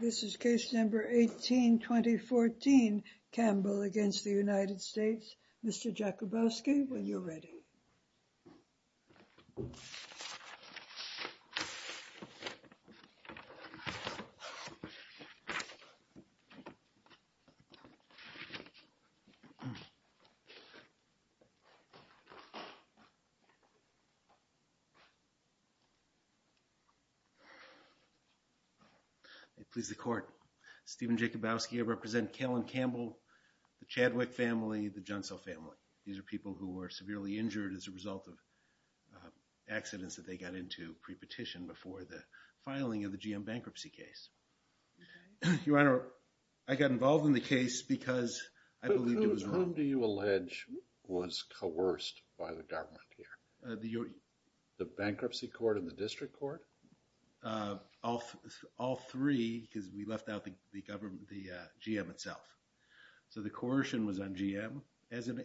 This is case number 182014 Campbell against the United States. Mr. Jakubowski, when you're present. Please the court. Stephen Jakubowski, I represent Callen Campbell, the Chadwick family, the Johnson family. These are people who were severely injured as a result of accidents that they got into pre-petition before the filing of the GM bankruptcy case. Your Honor, I got involved in the case because I believe it was wrong. Whom do you allege was coerced by the government here? The bankruptcy court and the district court? All three because we left out the government, the GM itself. So the coercion was on GM as in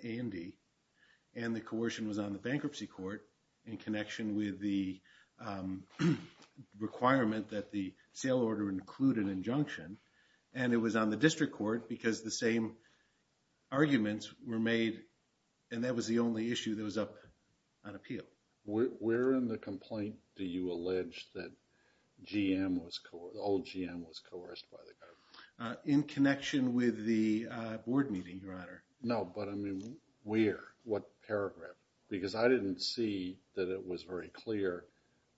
requirement that the sale order include an injunction and it was on the district court because the same arguments were made and that was the only issue that was up on appeal. Where in the complaint do you allege that GM was coerced, old GM was coerced by the government? In connection with the board meeting, Your Honor. No, but I mean where? What paragraph? Because I didn't see that it was very clear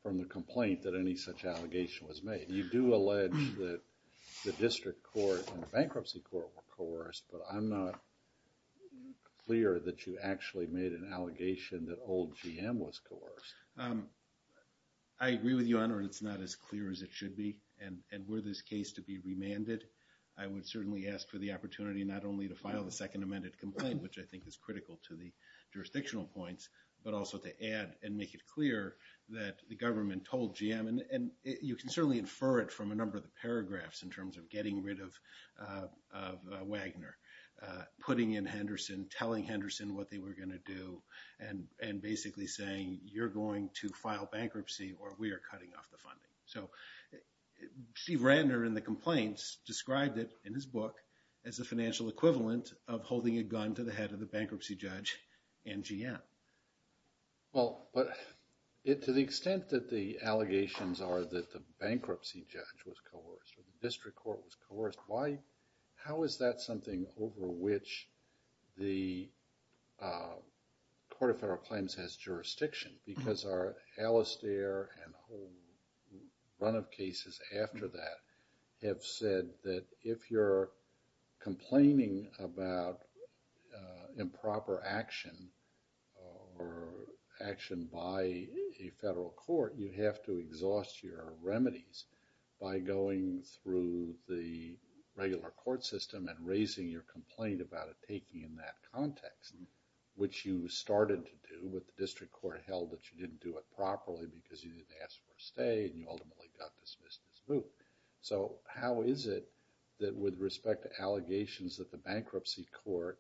from the complaint that any such allegation was made. You do allege that the district court and the bankruptcy court were coerced but I'm not clear that you actually made an allegation that old GM was coerced. I agree with you, Your Honor. It's not as clear as it should be and were this case to be remanded, I would certainly ask for the opportunity not only to file the second amended complaint which I think is critical to the jurisdictional points but also to add and make it clear that the government told GM and you can certainly infer it from a number of the paragraphs in terms of getting rid of Wagner, putting in Henderson, telling Henderson what they were going to do and basically saying you're going to file bankruptcy or we are cutting off the funding. So Steve Rantner in the complaints described it in his book as a financial equivalent of the bankruptcy judge and GM. Well, but to the extent that the allegations are that the bankruptcy judge was coerced or the district court was coerced, how is that something over which the Court of Federal Claims has jurisdiction? Because our Alistair and whole run of cases after that have said that if you're complaining about improper action or action by a federal court, you have to exhaust your remedies by going through the regular court system and raising your complaint about a taking in that context which you started to do with the district court held that you didn't do it properly because you didn't ask for a stay and you ultimately got dismissed in this book. So, how is it that with respect to allegations that the bankruptcy court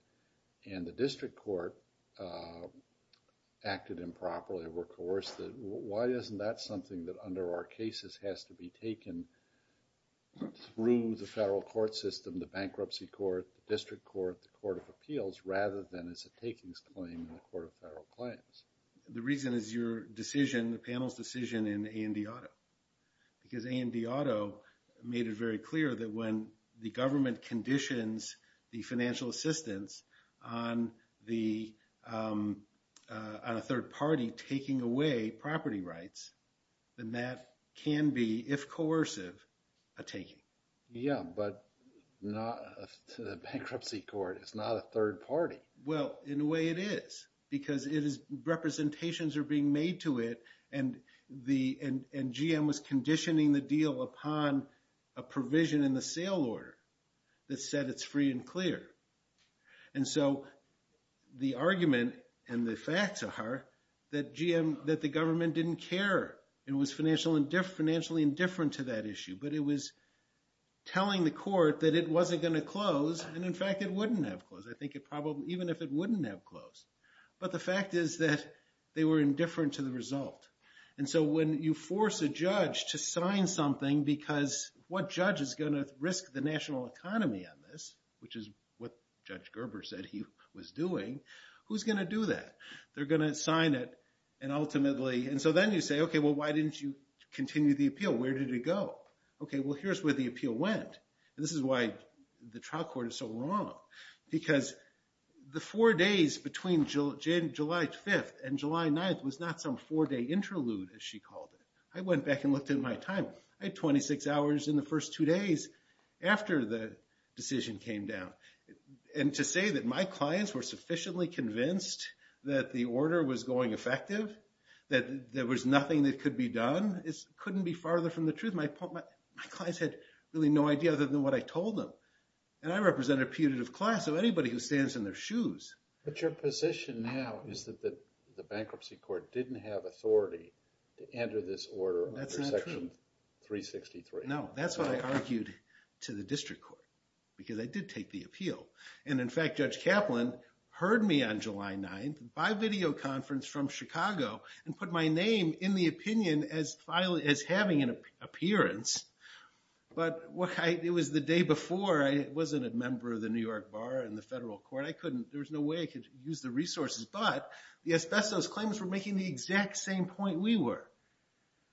and the district court acted improperly or coerced? Why isn't that something that our cases has to be taken through the federal court system, the bankruptcy court, the district court, the Court of Appeals rather than as a takings claim in the Court of Federal Claims? The reason is your decision, the panel's decision in A&D Auto. Because A&D Auto made it very clear that when the government conditions the financial assistance on a third party taking away property rights, then that can be, if coercive, a taking. Yeah, but the bankruptcy court is not a third party. Well, in a way it is because representations are being made to it and GM was conditioning the deal upon a provision in the sale order that said it's free and clear. And so the argument and the facts are that the government didn't care and was financially indifferent to that issue, but it was telling the court that it wasn't going to close and in fact it wouldn't have closed. I think it probably, even if it wouldn't have closed. But the fact is that they were indifferent to the result. And so when you force a judge to sign something because what judge is going to risk the national economy on this, which is what Judge Gerber said he was doing, who's going to do that? They're going to sign it and ultimately, and so then you say, okay, well why didn't you continue the appeal? Where did it go? Okay, well here's where the appeal went. This is why the trial court is so wrong. Because the four days between July 5th and July 9th was not some four-day interlude, as she called it. I went back and looked at my time. I had 26 hours in the first two days after the decision came down. And to say that my clients were sufficiently convinced that the order was going effective, that there was nothing that could be done, couldn't be farther from the truth. My clients had really no idea other than what I told them. And I represent a putative class of anybody who stands in their shoes. But your position now is that the bankruptcy court didn't have authority to enter this order under Section 363. No, that's what I argued to the district court because I did take the appeal. And in fact, Judge Kaplan heard me on July 9th by videoconference from Chicago and put my name in the opinion as having an appearance. But it was the day before. I wasn't a member of the New York Bar and the federal court. There was no way I could use the resources. But the asbestos claims were making the exact same point we were.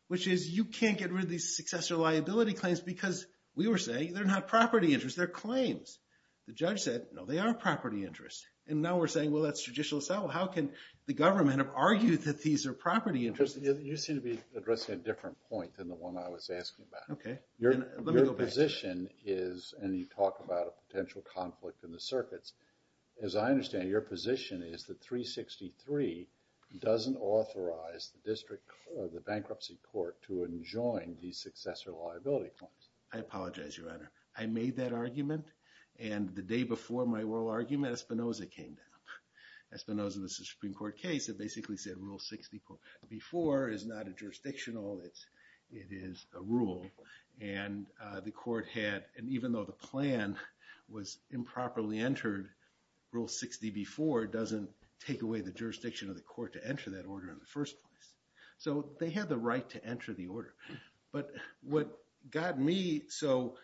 Which is, you can't get rid of these successor liability claims because we were saying they're not property interests, they're claims. The judge said, no, they are property interests. And now we're saying, well, that's judicial asylum. How can the government have argued that these are property interests? You seem to be addressing a different point than the one I was asking about. Your position is, and you talk about a potential conflict in the circuits. As I understand it, your position is that 363 doesn't authorize the bankruptcy court to enjoin these successor liability claims. I apologize, Your Honor. I made that argument. And the day before my oral argument, Espinoza came down. Espinoza was a Supreme Court case that basically said Rule 60 before is not a jurisdictional. It is a rule. And the court had, and even though the plan was improperly entered, Rule 60 before doesn't take away the jurisdiction of the court to enter that order in the first place. So they had the right to enter the order. But what got me so...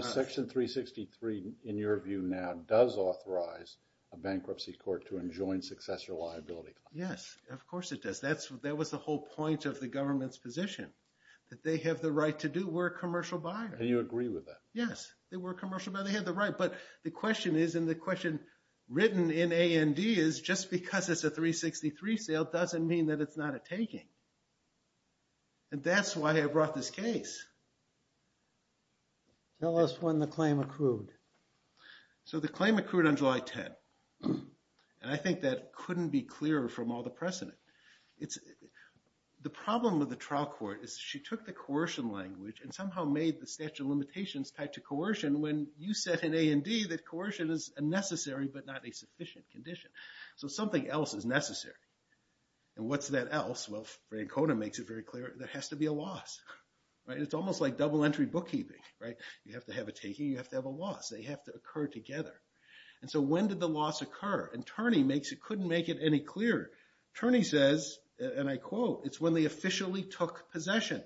Section 363, in your view now, does authorize a bankruptcy court to enjoin successor liability claims. Yes, of course it does. That was the whole point of the government's position. That they have the right to do. We're a commercial buyer. And you agree with that? Yes, we're a commercial buyer. They have the right. But the question is, and the question written in A&D is, just because it's a 363 sale doesn't mean that it's not a taking. And that's why I brought this case. Tell us when the claim accrued. So the claim accrued on July 10. And I think that couldn't be clearer from all the precedent. The problem with the trial court is she took the coercion language and somehow made the statute of limitations tied to coercion when you said in A&D that coercion is a necessary but not a sufficient condition. So something else is necessary. And what's that else? Well, Francona makes it very clear. There has to be a loss. It's almost like double entry bookkeeping. You have to have a taking. You have to have a loss. They have to occur together. And so when did the loss occur? And Turney couldn't make it any clearer. Turney says, and I quote, it's when they officially took possession.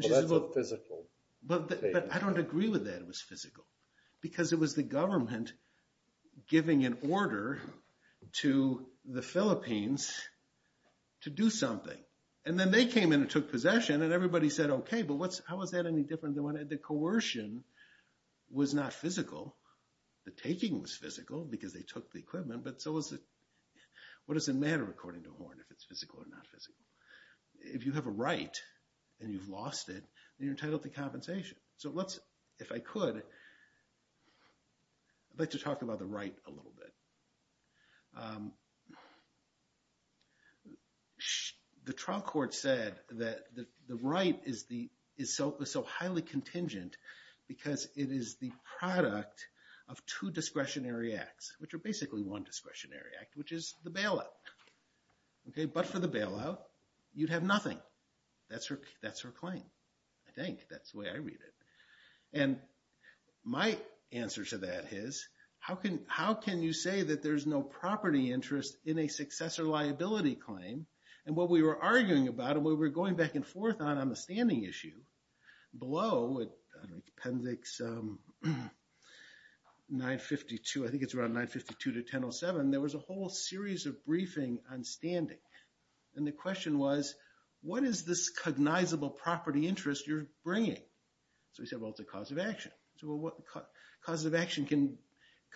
Well, that's a physical statement. But I don't agree with that it was physical. Because it was the government giving an order to the Philippines to do something. And then they came in and took possession. And everybody said, okay, but how was that any different than when the coercion was not physical? The taking was physical because they took the equipment. But so what does it matter according to Horn if it's physical or not physical? If you have a right and you've lost it, you're entitled to compensation. So let's, if I could, I'd like to talk about the right a little bit. The trial court said that the right is so highly contingent because it is the product of two discretionary acts, which are basically one discretionary act, which is the bailout. But for the bailout, you'd have nothing. That's her claim, I think. That's the way I read it. And my answer to that is, how can you say that there's no property interest in a successor liability claim? And what we were arguing about and what we were going back and forth on on the standing issue, below, I don't know, appendix 952, I think it's around 952 to 1007, there was a whole series of briefing on standing. And the question was, what is this cognizable property interest you're bringing? So we said, well, it's a cause of action. Causes of action can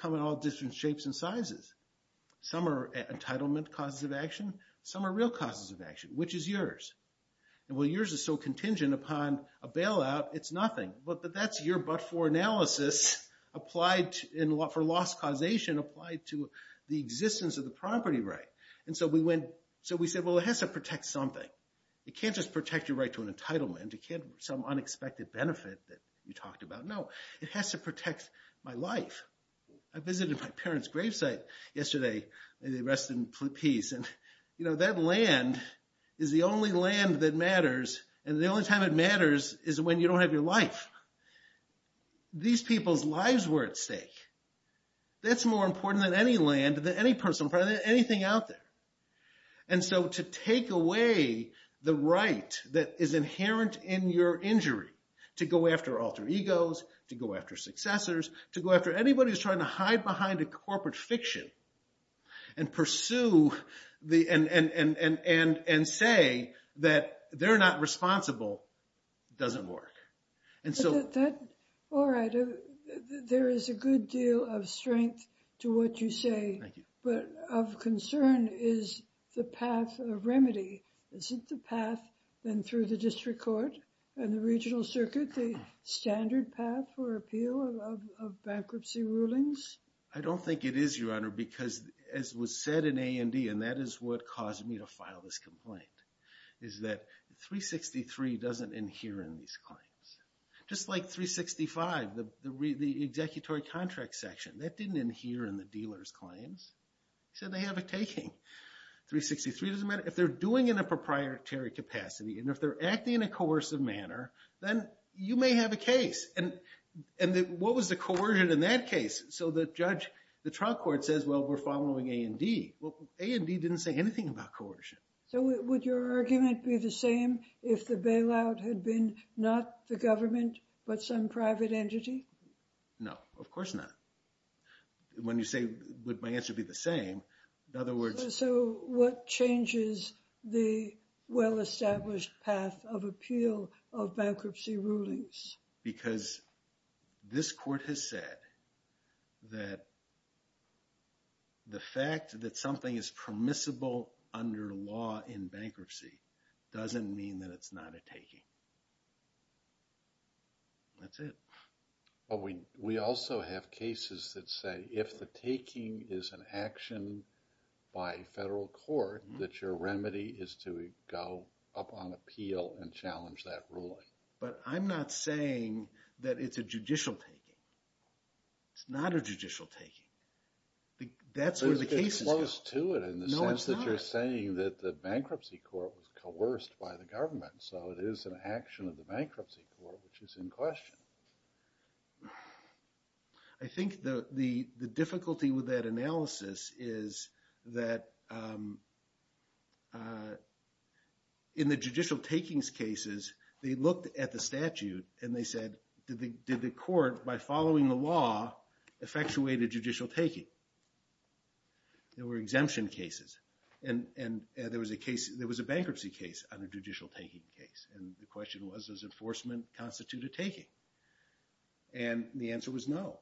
come in all different shapes and sizes. Some are entitlement causes of action. Some are real causes of action. Which is yours? And while yours is so contingent upon a bailout, it's nothing. But that's your but-for analysis for loss causation applied to the existence of the property right. And so we went, so we said, well, it has to protect something. It can't just protect your right to an entitlement. It can't have some unexpected benefit that you talked about. No, it has to protect my life. I visited my parents' gravesite yesterday. They rested in peace. And that land is the only land that matters. And the only time it matters is when you don't have your life. These people's lives were at stake. That's more important than any land, than any personal property, than anything out there. And so to take away the right that is inherent in your injury to go after alter egos, to go after successors, to go after anybody who's trying to hide behind a corporate fiction and pursue and say that they're not responsible doesn't work. All right. There is a good deal of strength to what you say. Thank you. But of concern is the path of remedy. Isn't the path then through the district court and the regional circuit the standard path for appeal of bankruptcy rulings? I don't think it is, Your Honor, because as was said in A&E, and that is what caused me to file this complaint, is that 363 doesn't adhere in these claims. Just like 365, the executory contract section, that didn't adhere in the dealer's claims. So they have a taking. 363 doesn't matter. If they're doing it in a proprietary capacity and if they're acting in a coercive manner, then you may have a case. And what was the coercion in that case? So the judge, the trial court says, well, we're following A&D. Well, A&D didn't say anything about coercion. So would your argument be the same if the bailout had been not the government but some private entity? No, of course not. When you say would my answer be the same, in other words... So what changes the well-established path of appeal of bankruptcy rulings? Because this court has said that the fact that something is permissible under law in bankruptcy doesn't mean that it's not a taking. That's it. We also have cases that say if the taking is an action by federal court, that your remedy is to go up on appeal and challenge that ruling. But I'm not saying that it's a judicial taking. It's not a judicial taking. That's where the cases go. It's close to it in the sense that you're saying that the bankruptcy court was coerced by the government. So it is an action of the bankruptcy court, which is in question. I think the difficulty with that analysis is that in the judicial takings cases, they looked at the statute and they said, did the court, by following the law, effectuate a judicial taking? There were exemption cases. And there was a bankruptcy case on a judicial taking case. And the question was, does enforcement constitute a taking? And the answer was no.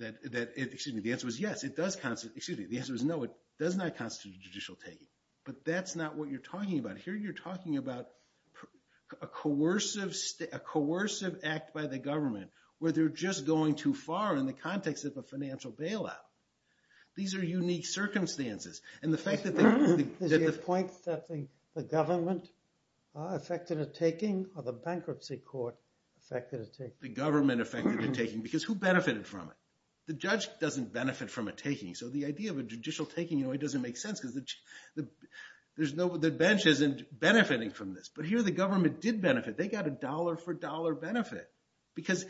Excuse me, the answer was yes. The answer was no, it does not constitute a judicial taking. But that's not what you're talking about. Here you're talking about a coercive act by the government where they're just going too far in the context of a financial bailout. These are unique circumstances. Is your point that the government effected a taking or the bankruptcy court effected a taking? The government effected a taking because who benefited from it? The judge doesn't benefit from a taking. So the idea of a judicial taking doesn't make sense because the bench isn't benefiting from this. But here the government did benefit. They got a dollar for dollar benefit. Because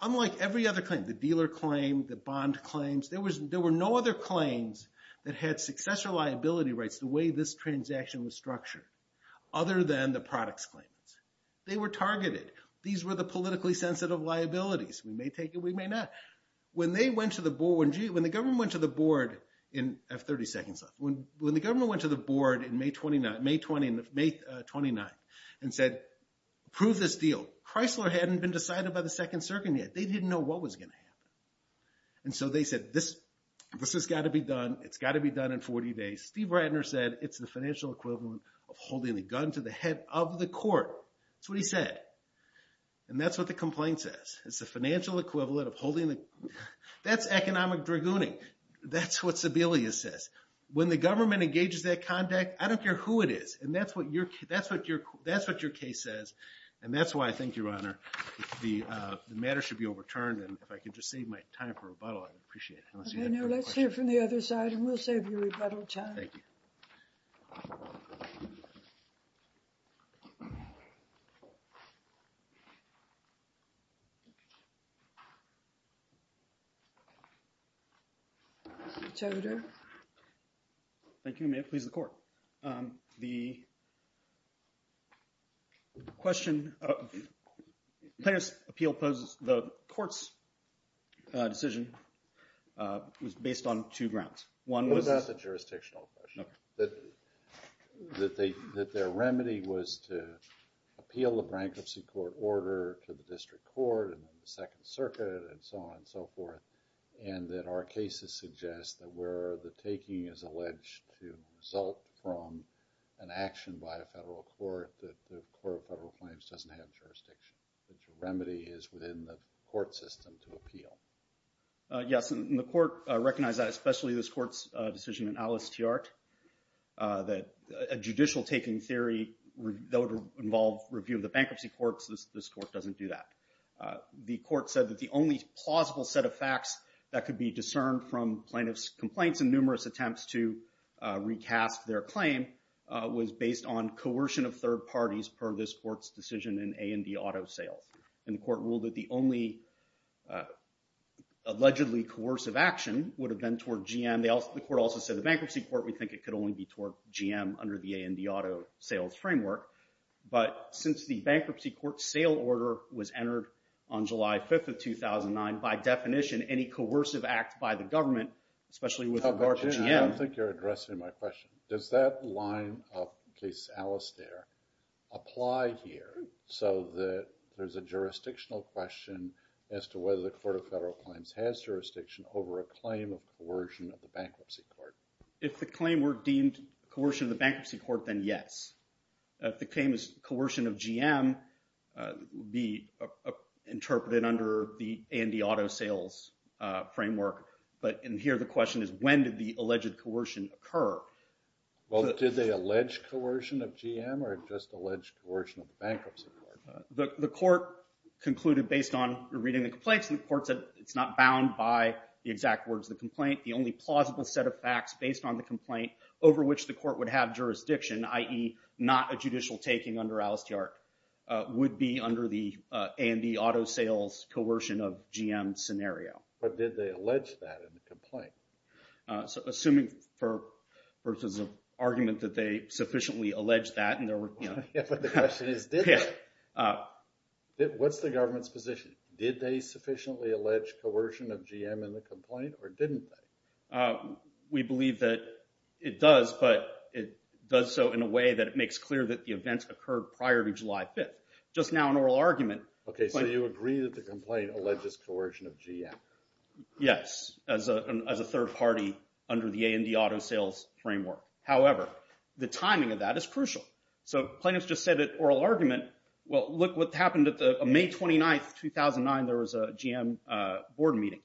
unlike every other claim, the dealer claim, the bond claims, there were no other claims that had successor liability rights the way this transaction was structured, other than the products claims. They were targeted. These were the politically sensitive liabilities. We may take it, we may not. When they went to the board, when the government went to the board in, I have 30 seconds left, when the government went to the board in May 29th and said, prove this deal. Chrysler hadn't been decided by the second circuit yet. They didn't know what was going to happen. And so they said, this has got to be done. It's got to be done in 40 days. Steve Ratner said, it's the financial equivalent of holding the gun to the head of the court. That's what he said. And that's what the complaint says. It's the financial equivalent of holding the, that's economic dragooning. That's what Sebelius says. When the government engages that conduct, I don't care who it is. And that's what your case says. And that's why I think, Your Honor, the matter should be overturned. And if I could just save my time for rebuttal, I'd appreciate it. Let's hear from the other side, and we'll save you rebuttal time. Thank you. Mr. Toder. Thank you. May it please the court. The question, plaintiff's appeal poses, the court's decision was based on two grounds. One was- Well, that's a jurisdictional question. Okay. That their remedy was to appeal the bankruptcy court order to the district court, and then the Second Circuit, and so on and so forth. And that our cases suggest that where the taking is alleged to result from an action by a federal court, that the court of federal claims doesn't have jurisdiction. That your remedy is within the court system to appeal. Yes, and the court recognized that, especially this court's decision in Alice Tiart, that a judicial taking theory that would involve review of the bankruptcy court, this court doesn't do that. The court said that the only plausible set of facts that could be discerned from plaintiff's complaints and numerous attempts to recast their claim was based on coercion of third parties per this court's decision in A&D Auto Sales. And the court ruled that the only allegedly coercive action would have been toward GM. The court also said the bankruptcy court would think it could only be toward GM under the A&D Auto Sales framework. But since the bankruptcy court sale order was entered on July 5th of 2009, by definition, any coercive act by the government, especially with regard to GM. I don't think you're addressing my question. Does that line of case Alice Tiart apply here so that there's a jurisdictional question as to whether the court of federal claims has jurisdiction over a claim of coercion of the bankruptcy court? If the claim were deemed coercion of the bankruptcy court, then yes. If the claim is coercion of GM, it would be interpreted under the A&D Auto Sales framework. But in here the question is when did the alleged coercion occur? Well, did they allege coercion of GM or just allege coercion of the bankruptcy court? The court concluded based on reading the complaints, the court said it's not bound by the exact words of the complaint. The only plausible set of facts based on the complaint over which the court would have jurisdiction, i.e. not a judicial taking under Alice Tiart, would be under the A&D Auto Sales coercion of GM scenario. But did they allege that in the complaint? Assuming versus an argument that they sufficiently alleged that. But the question is did they? What's the government's position? Did they sufficiently allege coercion of GM in the complaint or didn't they? We believe that it does, but it does so in a way that it makes clear that the events occurred prior to July 5th. Just now an oral argument. Okay, so you agree that the complaint alleges coercion of GM. Yes, as a third party under the A&D Auto Sales framework. However, the timing of that is crucial. So plaintiffs just said at oral argument, well, look what happened on May 29th, 2009, there was a GM board meeting.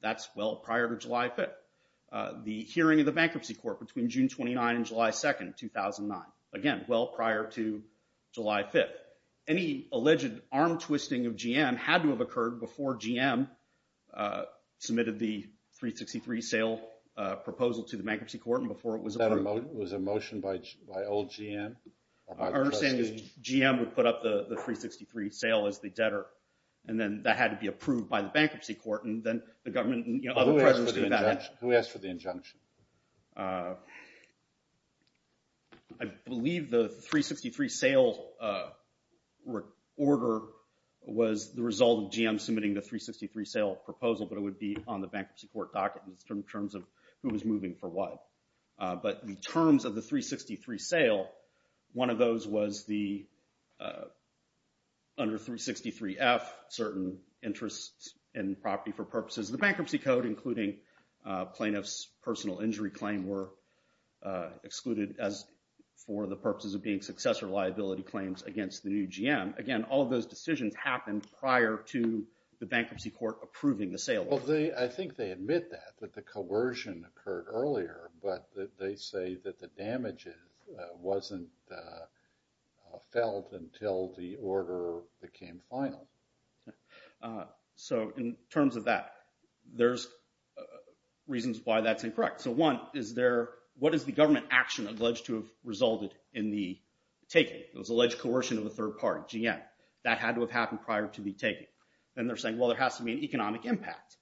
That's well prior to July 5th. The hearing of the Bankruptcy Court between June 29th and July 2nd, 2009. Again, well prior to July 5th. Any alleged arm twisting of GM had to have occurred before GM submitted the 363 sale proposal to the Bankruptcy Court and before it was approved. Was that a motion by old GM? Our understanding is GM would put up the 363 sale as the debtor, and then that had to be approved by the Bankruptcy Court. And then the government and other pressures did that. Who asked for the injunction? I believe the 363 sale order was the result of GM submitting the 363 sale proposal, but it would be on the Bankruptcy Court docket in terms of who was moving for what. But in terms of the 363 sale, one of those was under 363F, certain interests in property for purposes of the Bankruptcy Code, including plaintiff's personal injury claim were excluded as for the purposes of being successor liability claims against the new GM. Again, all of those decisions happened prior to the Bankruptcy Court approving the sale. I think they admit that, that the coercion occurred earlier, but they say that the damage wasn't felt until the order became final. So in terms of that, there's reasons why that's incorrect. So one, what is the government action alleged to have resulted in the taking? It was alleged coercion of the third party, GM. That had to have happened prior to the taking. Then they're saying, well, there has to be an economic impact.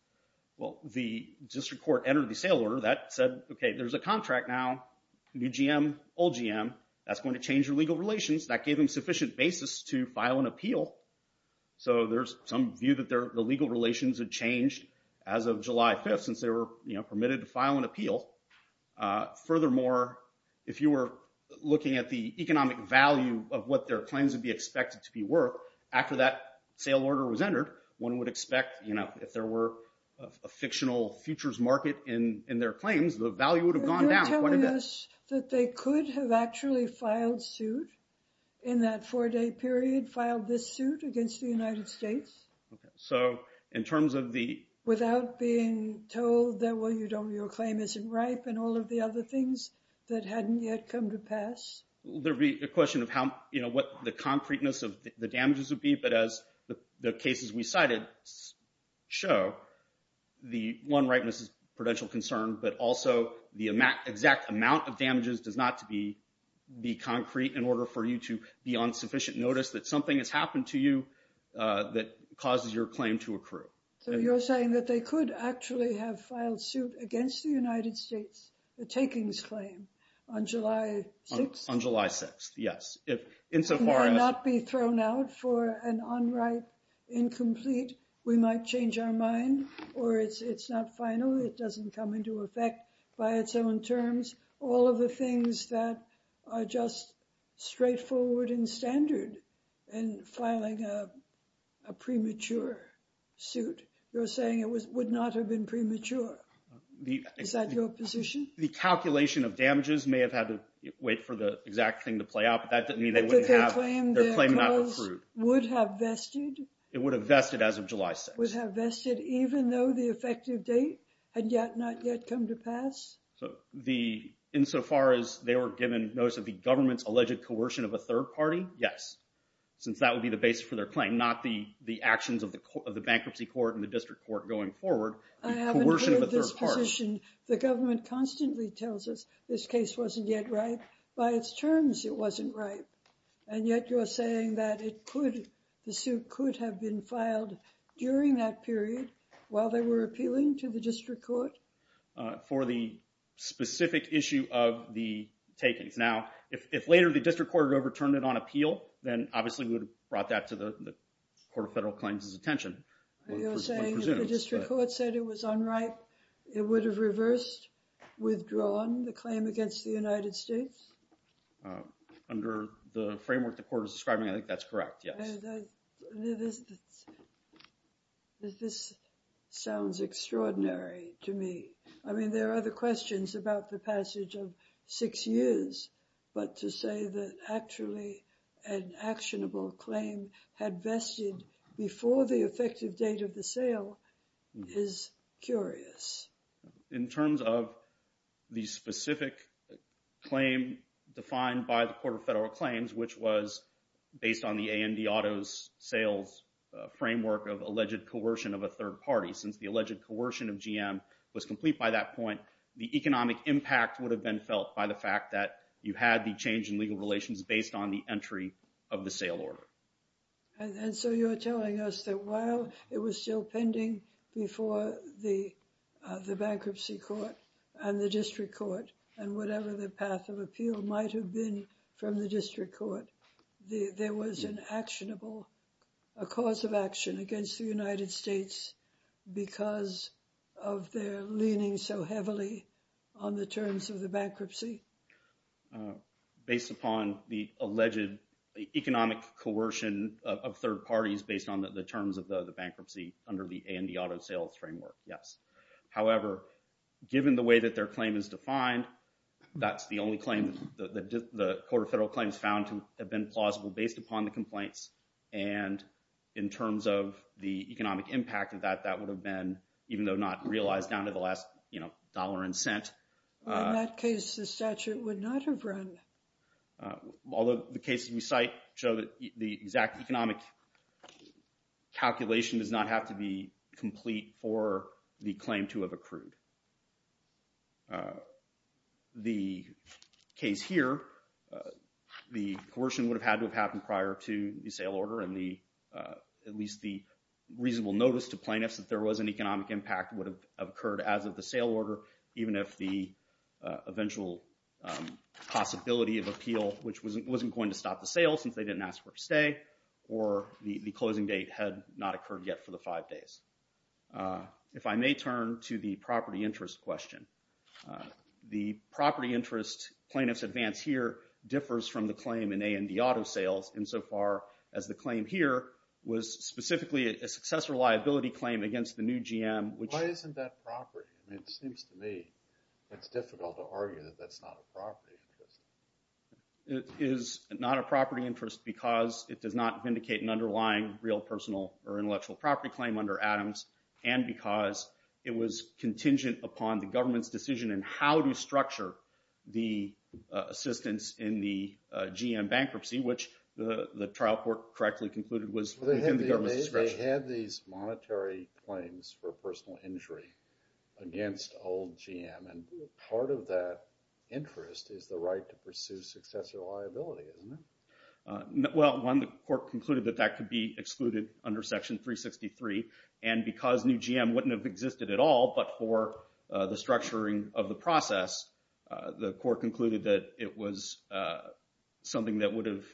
Well, the district court entered the sale order. That said, okay, there's a contract now, new GM, old GM. That's going to change your legal relations. That gave them sufficient basis to file an appeal. So there's some view that the legal relations had changed as of July 5th since they were permitted to file an appeal. Furthermore, if you were looking at the economic value of what their claims would be expected to be worth, after that sale order was entered, one would expect, you know, if there were a fictional futures market in their claims, the value would have gone down quite a bit. They're telling us that they could have actually filed suit in that four-day period, filed this suit against the United States. Okay. Without being told that, well, your claim isn't ripe and all of the other things that hadn't yet come to pass? There would be a question of how, you know, what the concreteness of the damages would be. But as the cases we cited show, the one ripeness is prudential concern, but also the exact amount of damages does not to be concrete in order for you to be on sufficient notice that something has happened to you that causes your claim to accrue. So you're saying that they could actually have filed suit against the United States, the takings claim, on July 6th? On July 6th, yes. It might not be thrown out for an unripe, incomplete, we might change our mind, or it's not final, it doesn't come into effect by its own terms. All of the things that are just straightforward and standard in filing a premature suit, you're saying it would not have been premature. Is that your position? The calculation of damages may have had to wait for the exact thing to play out, but that doesn't mean they wouldn't have, their claim not accrued. Would have vested? It would have vested as of July 6th. Would have vested even though the effective date had not yet come to pass? So the, insofar as they were given notice of the government's alleged coercion of a third party, yes. Since that would be the basis for their claim, not the actions of the bankruptcy court and the district court going forward. I haven't heard this position. The government constantly tells us this case wasn't yet ripe. By its terms, it wasn't ripe. And yet you're saying that it could, the suit could have been filed during that period while they were appealing to the district court? For the specific issue of the takings. Now, if later the district court overturned it on appeal, then obviously we would have brought that to the Court of Federal Claims' attention. You're saying if the district court said it was unripe, it would have reversed, withdrawn the claim against the United States? Under the framework the court is describing, I think that's correct, yes. This sounds extraordinary to me. I mean, there are other questions about the passage of six years. But to say that actually an actionable claim had vested before the effective date of the sale is curious. In terms of the specific claim defined by the Court of Federal Claims, which was based on the A&E auto sales framework of alleged coercion of a third party, since the alleged coercion of GM was complete by that point, the economic impact would have been felt by the fact that you had the change in legal relations based on the entry of the sale order. And so you're telling us that while it was still pending before the bankruptcy court and the district court, and whatever the path of appeal might have been from the district court, there was an actionable, a cause of action against the United States because of their leaning so heavily on the terms of the bankruptcy? Based upon the alleged economic coercion of third parties based on the terms of the bankruptcy under the A&E auto sales framework, yes. However, given the way that their claim is defined, that's the only claim that the Court of Federal Claims found to have been plausible based upon the complaints. And in terms of the economic impact of that, that would have been, even though not realized down to the last dollar and cent. In that case, the statute would not have run. Although the cases we cite show that the exact economic calculation does not have to be complete for the claim to have accrued. The case here, the coercion would have had to have happened prior to the sale order, and at least the reasonable notice to plaintiffs that there was an economic impact would have occurred as of the sale order, even if the eventual possibility of appeal, which wasn't going to stop the sale since they didn't ask for a stay, or the closing date had not occurred yet for the five days. If I may turn to the property interest question. The property interest plaintiff's advance here differs from the claim in A&D auto sales, insofar as the claim here was specifically a successor liability claim against the new GM. Why isn't that property? It seems to me it's difficult to argue that that's not a property interest. It is not a property interest because it does not vindicate an underlying real personal or intellectual property claim under Adams, and because it was contingent upon the government's decision in how to structure the assistance in the GM bankruptcy, which the trial court correctly concluded was within the government's discretion. They had these monetary claims for personal injury against old GM, and part of that interest is the right to pursue successor liability, isn't it? Well, one, the court concluded that that could be excluded under Section 363, and because new GM wouldn't have existed at all but for the structuring of the process, the court concluded that it was something that would have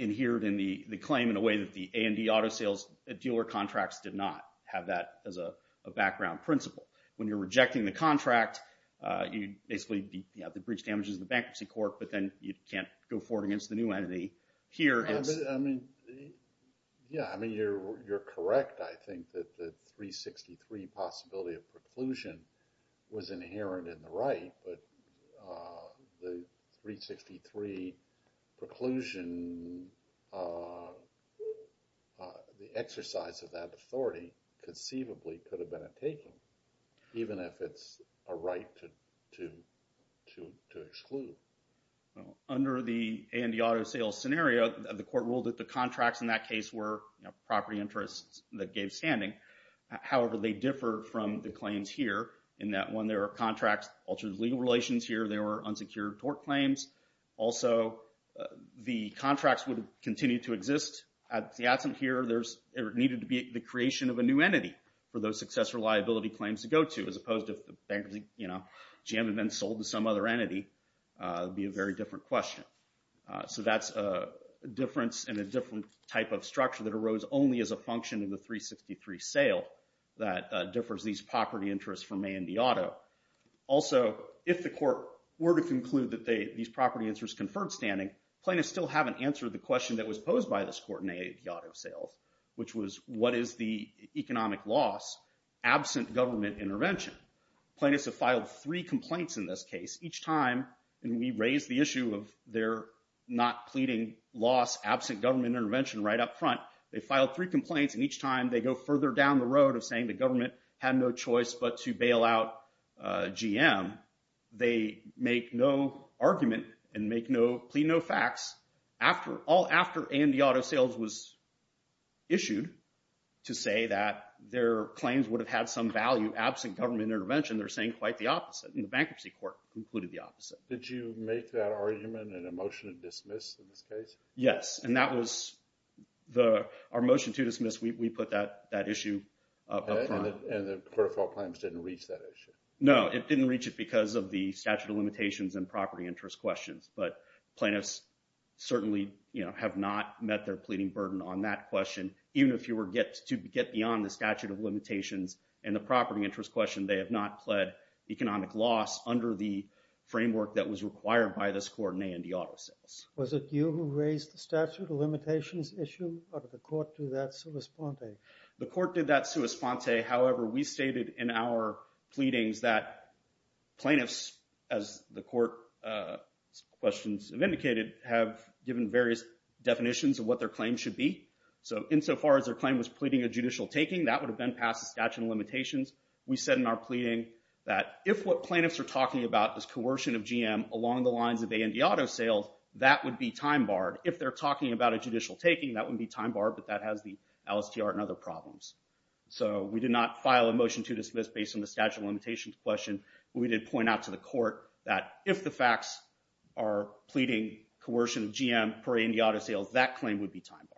adhered in the claim in a way that the A&D auto sales dealer contracts did not have that as a background principle. When you're rejecting the contract, you basically have the breach damages in the bankruptcy court, but then you can't go forward against the new entity. I mean, yeah, I mean, you're correct. I think that the 363 possibility of preclusion was inherent in the right, but the 363 preclusion, the exercise of that authority conceivably could have been a taking, even if it's a right to exclude. Under the A&D auto sales scenario, the court ruled that the contracts in that case were property interests that gave standing. However, they differ from the claims here in that when there are contracts, altered legal relations here, there were unsecured tort claims. Also, the contracts would continue to exist. At the adjunct here, there needed to be the creation of a new entity for those successor liability claims to go to, as opposed to if the bankruptcy GM had been sold to some other entity. It would be a very different question. So that's a difference in a different type of structure that arose only as a function in the 363 sale that differs these property interests from A&D auto. Also, if the court were to conclude that these property interests conferred standing, plaintiffs still haven't answered the question that was posed by this court in A&D auto sales, which was what is the economic loss absent government intervention. Plaintiffs have filed three complaints in this case each time, and we raised the issue of their not pleading loss absent government intervention right up front. They filed three complaints, and each time they go further down the road of saying the government had no choice but to bail out GM. They make no argument and plead no facts all after A&D auto sales was issued to say that their claims would have had some value absent government intervention. They're saying quite the opposite, and the bankruptcy court concluded the opposite. Did you make that argument in a motion to dismiss in this case? Yes, and that was our motion to dismiss. We put that issue up front. And the court of file claims didn't reach that issue? No, it didn't reach it because of the statute of limitations and property interest questions, but plaintiffs certainly have not met their pleading burden on that question. Even if you were to get beyond the statute of limitations and the property interest question, they have not pled economic loss under the framework that was required by this court in A&D auto sales. Was it you who raised the statute of limitations issue, or did the court do that sua sponte? The court did that sua sponte. However, we stated in our pleadings that plaintiffs, as the court's questions have indicated, have given various definitions of what their claim should be. So insofar as their claim was pleading a judicial taking, that would have been past the statute of limitations. We said in our pleading that if what plaintiffs are talking about is coercion of GM along the lines of A&D auto sales, that would be time barred. If they're talking about a judicial taking, that would be time barred, but that has the LSTR and other problems. So we did not file a motion to dismiss based on the statute of limitations question, but we did point out to the court that if the facts are pleading coercion of GM per A&D auto sales, that claim would be time barred.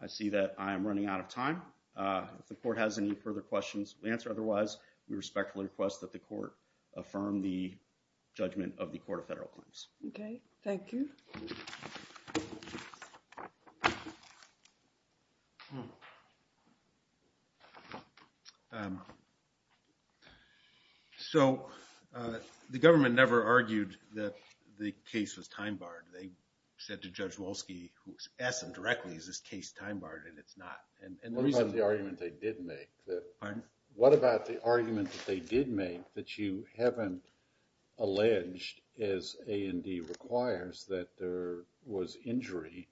I see that I am running out of time. If the court has any further questions to answer, otherwise, we respectfully request that the court affirm the judgment of the Court of Federal Claims. Okay. Thank you. So the government never argued that the case was time barred. They said to Judge Wolski, who asked them directly, is this case time barred, and it's not. What about the argument they did make? Pardon? That there was injury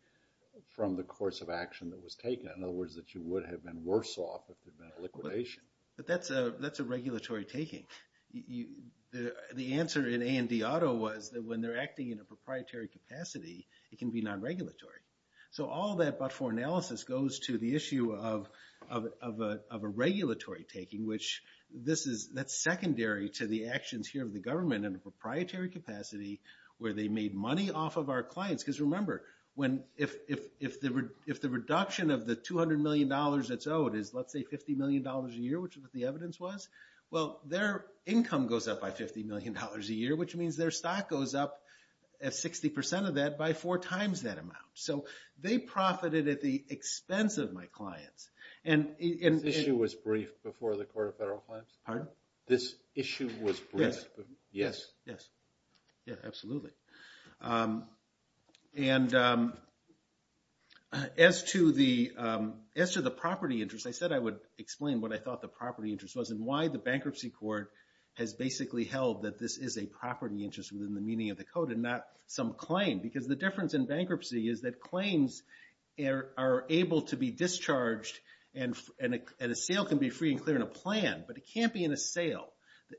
from the course of action that was taken. In other words, that you would have been worse off if there had been a liquidation. But that's a regulatory taking. The answer in A&D auto was that when they're acting in a proprietary capacity, it can be non-regulatory. So all that but for analysis goes to the issue of a regulatory taking, which that's secondary to the actions here of the government in a proprietary capacity where they made money off of our clients. Because remember, if the reduction of the $200 million that's owed is, let's say, $50 million a year, which is what the evidence was, well, their income goes up by $50 million a year, which means their stock goes up at 60% of that by four times that amount. So they profited at the expense of my clients. This issue was briefed before the Court of Federal Claims? Pardon? This issue was briefed? Yes. Yes. Yeah, absolutely. And as to the property interest, I said I would explain what I thought the property interest was and why the bankruptcy court has basically held that this is a property interest within the meaning of the code and not some claim. Because the difference in bankruptcy is that claims are able to be discharged and a sale can be free and clear in a plan, but it can't be in a sale.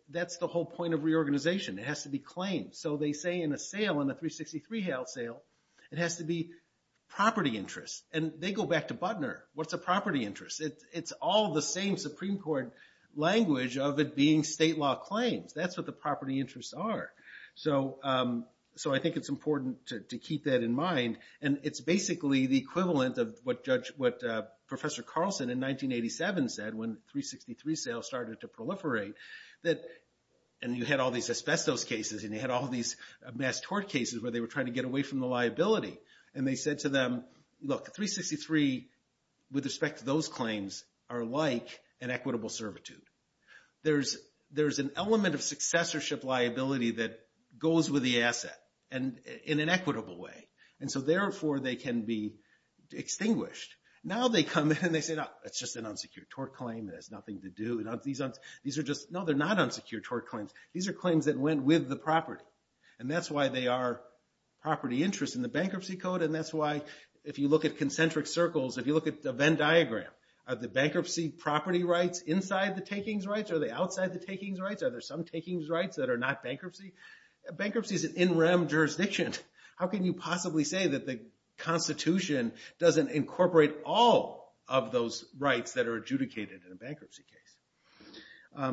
That's the whole point of reorganization. It has to be claimed. So they say in a sale, in a 363 sale, it has to be property interest. And they go back to Butner. What's a property interest? It's all the same Supreme Court language of it being state law claims. That's what the property interests are. So I think it's important to keep that in mind. And it's basically the equivalent of what Professor Carlson in 1987 said when 363 sales started to proliferate and you had all these asbestos cases and you had all these mass tort cases where they were trying to get away from the liability. And they said to them, look, 363 with respect to those claims are like an equitable servitude. There's an element of successorship liability that goes with the asset in an equitable way. And so, therefore, they can be extinguished. Now they come in and they say, no, it's just an unsecured tort claim. It has nothing to do. No, they're not unsecured tort claims. These are claims that went with the property. And that's why they are property interest in the Bankruptcy Code. And that's why if you look at concentric circles, if you look at the Venn diagram, are the bankruptcy property rights inside the takings rights? Are they outside the takings rights? Are there some takings rights that are not bankruptcy? Bankruptcy is an in rem jurisdiction. How can you possibly say that the Constitution doesn't incorporate all of those rights that are adjudicated in a bankruptcy case?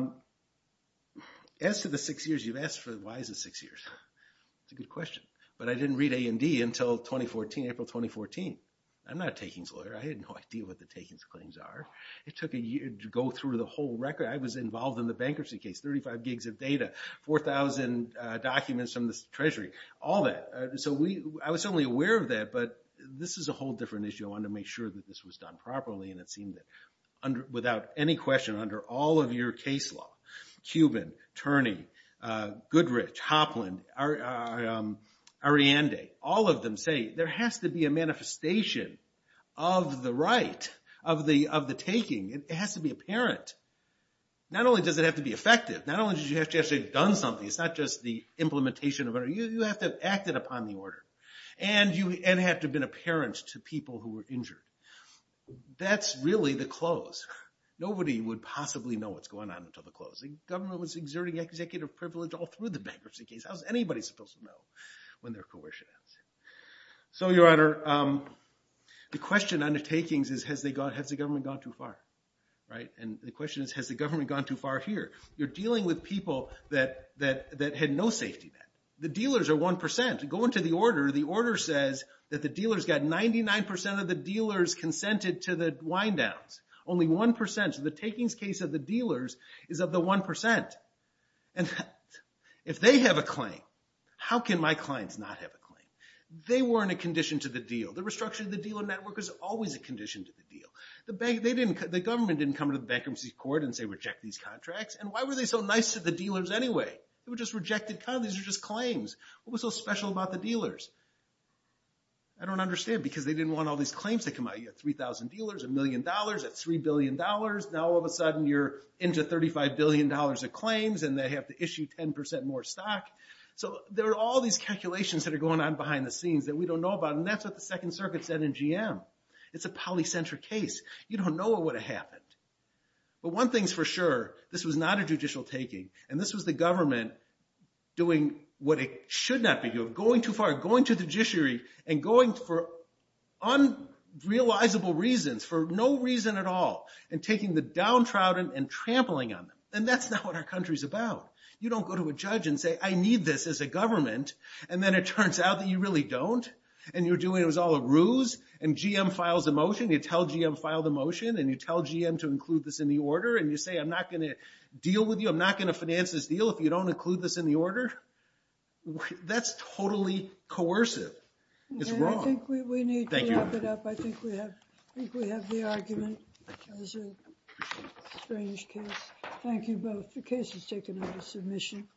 As to the six years you've asked for, why is it six years? That's a good question. But I didn't read A&D until 2014, April 2014. I'm not a takings lawyer. I had no idea what the takings claims are. It took a year to go through the whole record. I was involved in the bankruptcy case, 35 gigs of data, 4,000 documents from the Treasury, all that. So I was certainly aware of that. But this is a whole different issue. I wanted to make sure that this was done properly. And it seemed that without any question, under all of your case law, Cuban, Turney, Goodrich, Hopland, Ariande, all of them say there has to be a manifestation of the right of the taking. It has to be apparent. Not only does it have to be effective. Not only do you have to actually have done something. It's not just the implementation. You have to have acted upon the order. And it had to have been apparent to people who were injured. That's really the close. Nobody would possibly know what's going on until the close. The government was exerting executive privilege all through the bankruptcy case. How's anybody supposed to know when they're coerced? So, Your Honor, the question on the takings is has the government gone too far? And the question is has the government gone too far here? You're dealing with people that had no safety net. The dealers are 1%. Go into the order. The order says that the dealers got 99% of the dealers consented to the wind downs. Only 1%. So the takings case of the dealers is of the 1%. And if they have a claim, how can my clients not have a claim? They weren't a condition to the deal. The restructuring of the dealer network was always a condition to the deal. The government didn't come to the bankruptcy court and say reject these contracts. And why were they so nice to the dealers anyway? They were just rejected. These are just claims. What was so special about the dealers? I don't understand because they didn't want all these claims to come out. You had 3,000 dealers, a million dollars, at $3 billion. Now all of a sudden you're into $35 billion of claims and they have to issue 10% more stock. So there are all these calculations that are going on behind the scenes that we don't know about. And that's what the Second Circuit said in GM. It's a polycentric case. You don't know what would have happened. But one thing's for sure, this was not a judicial taking. And this was the government doing what it should not be doing. Going too far. Going to the judiciary and going for unrealizable reasons, for no reason at all. And taking the downtrodden and trampling on them. And that's not what our country's about. You don't go to a judge and say I need this as a government and then it turns out that you really don't. And you're doing it as all a ruse. And GM files a motion. You tell GM to file the motion. And you tell GM to include this in the order. And you say I'm not going to deal with you. I'm not going to finance this deal if you don't include this in the order. That's totally coercive. It's wrong. I think we need to wrap it up. I think we have the argument. That was a strange case. Thank you both. The case was taken under submission.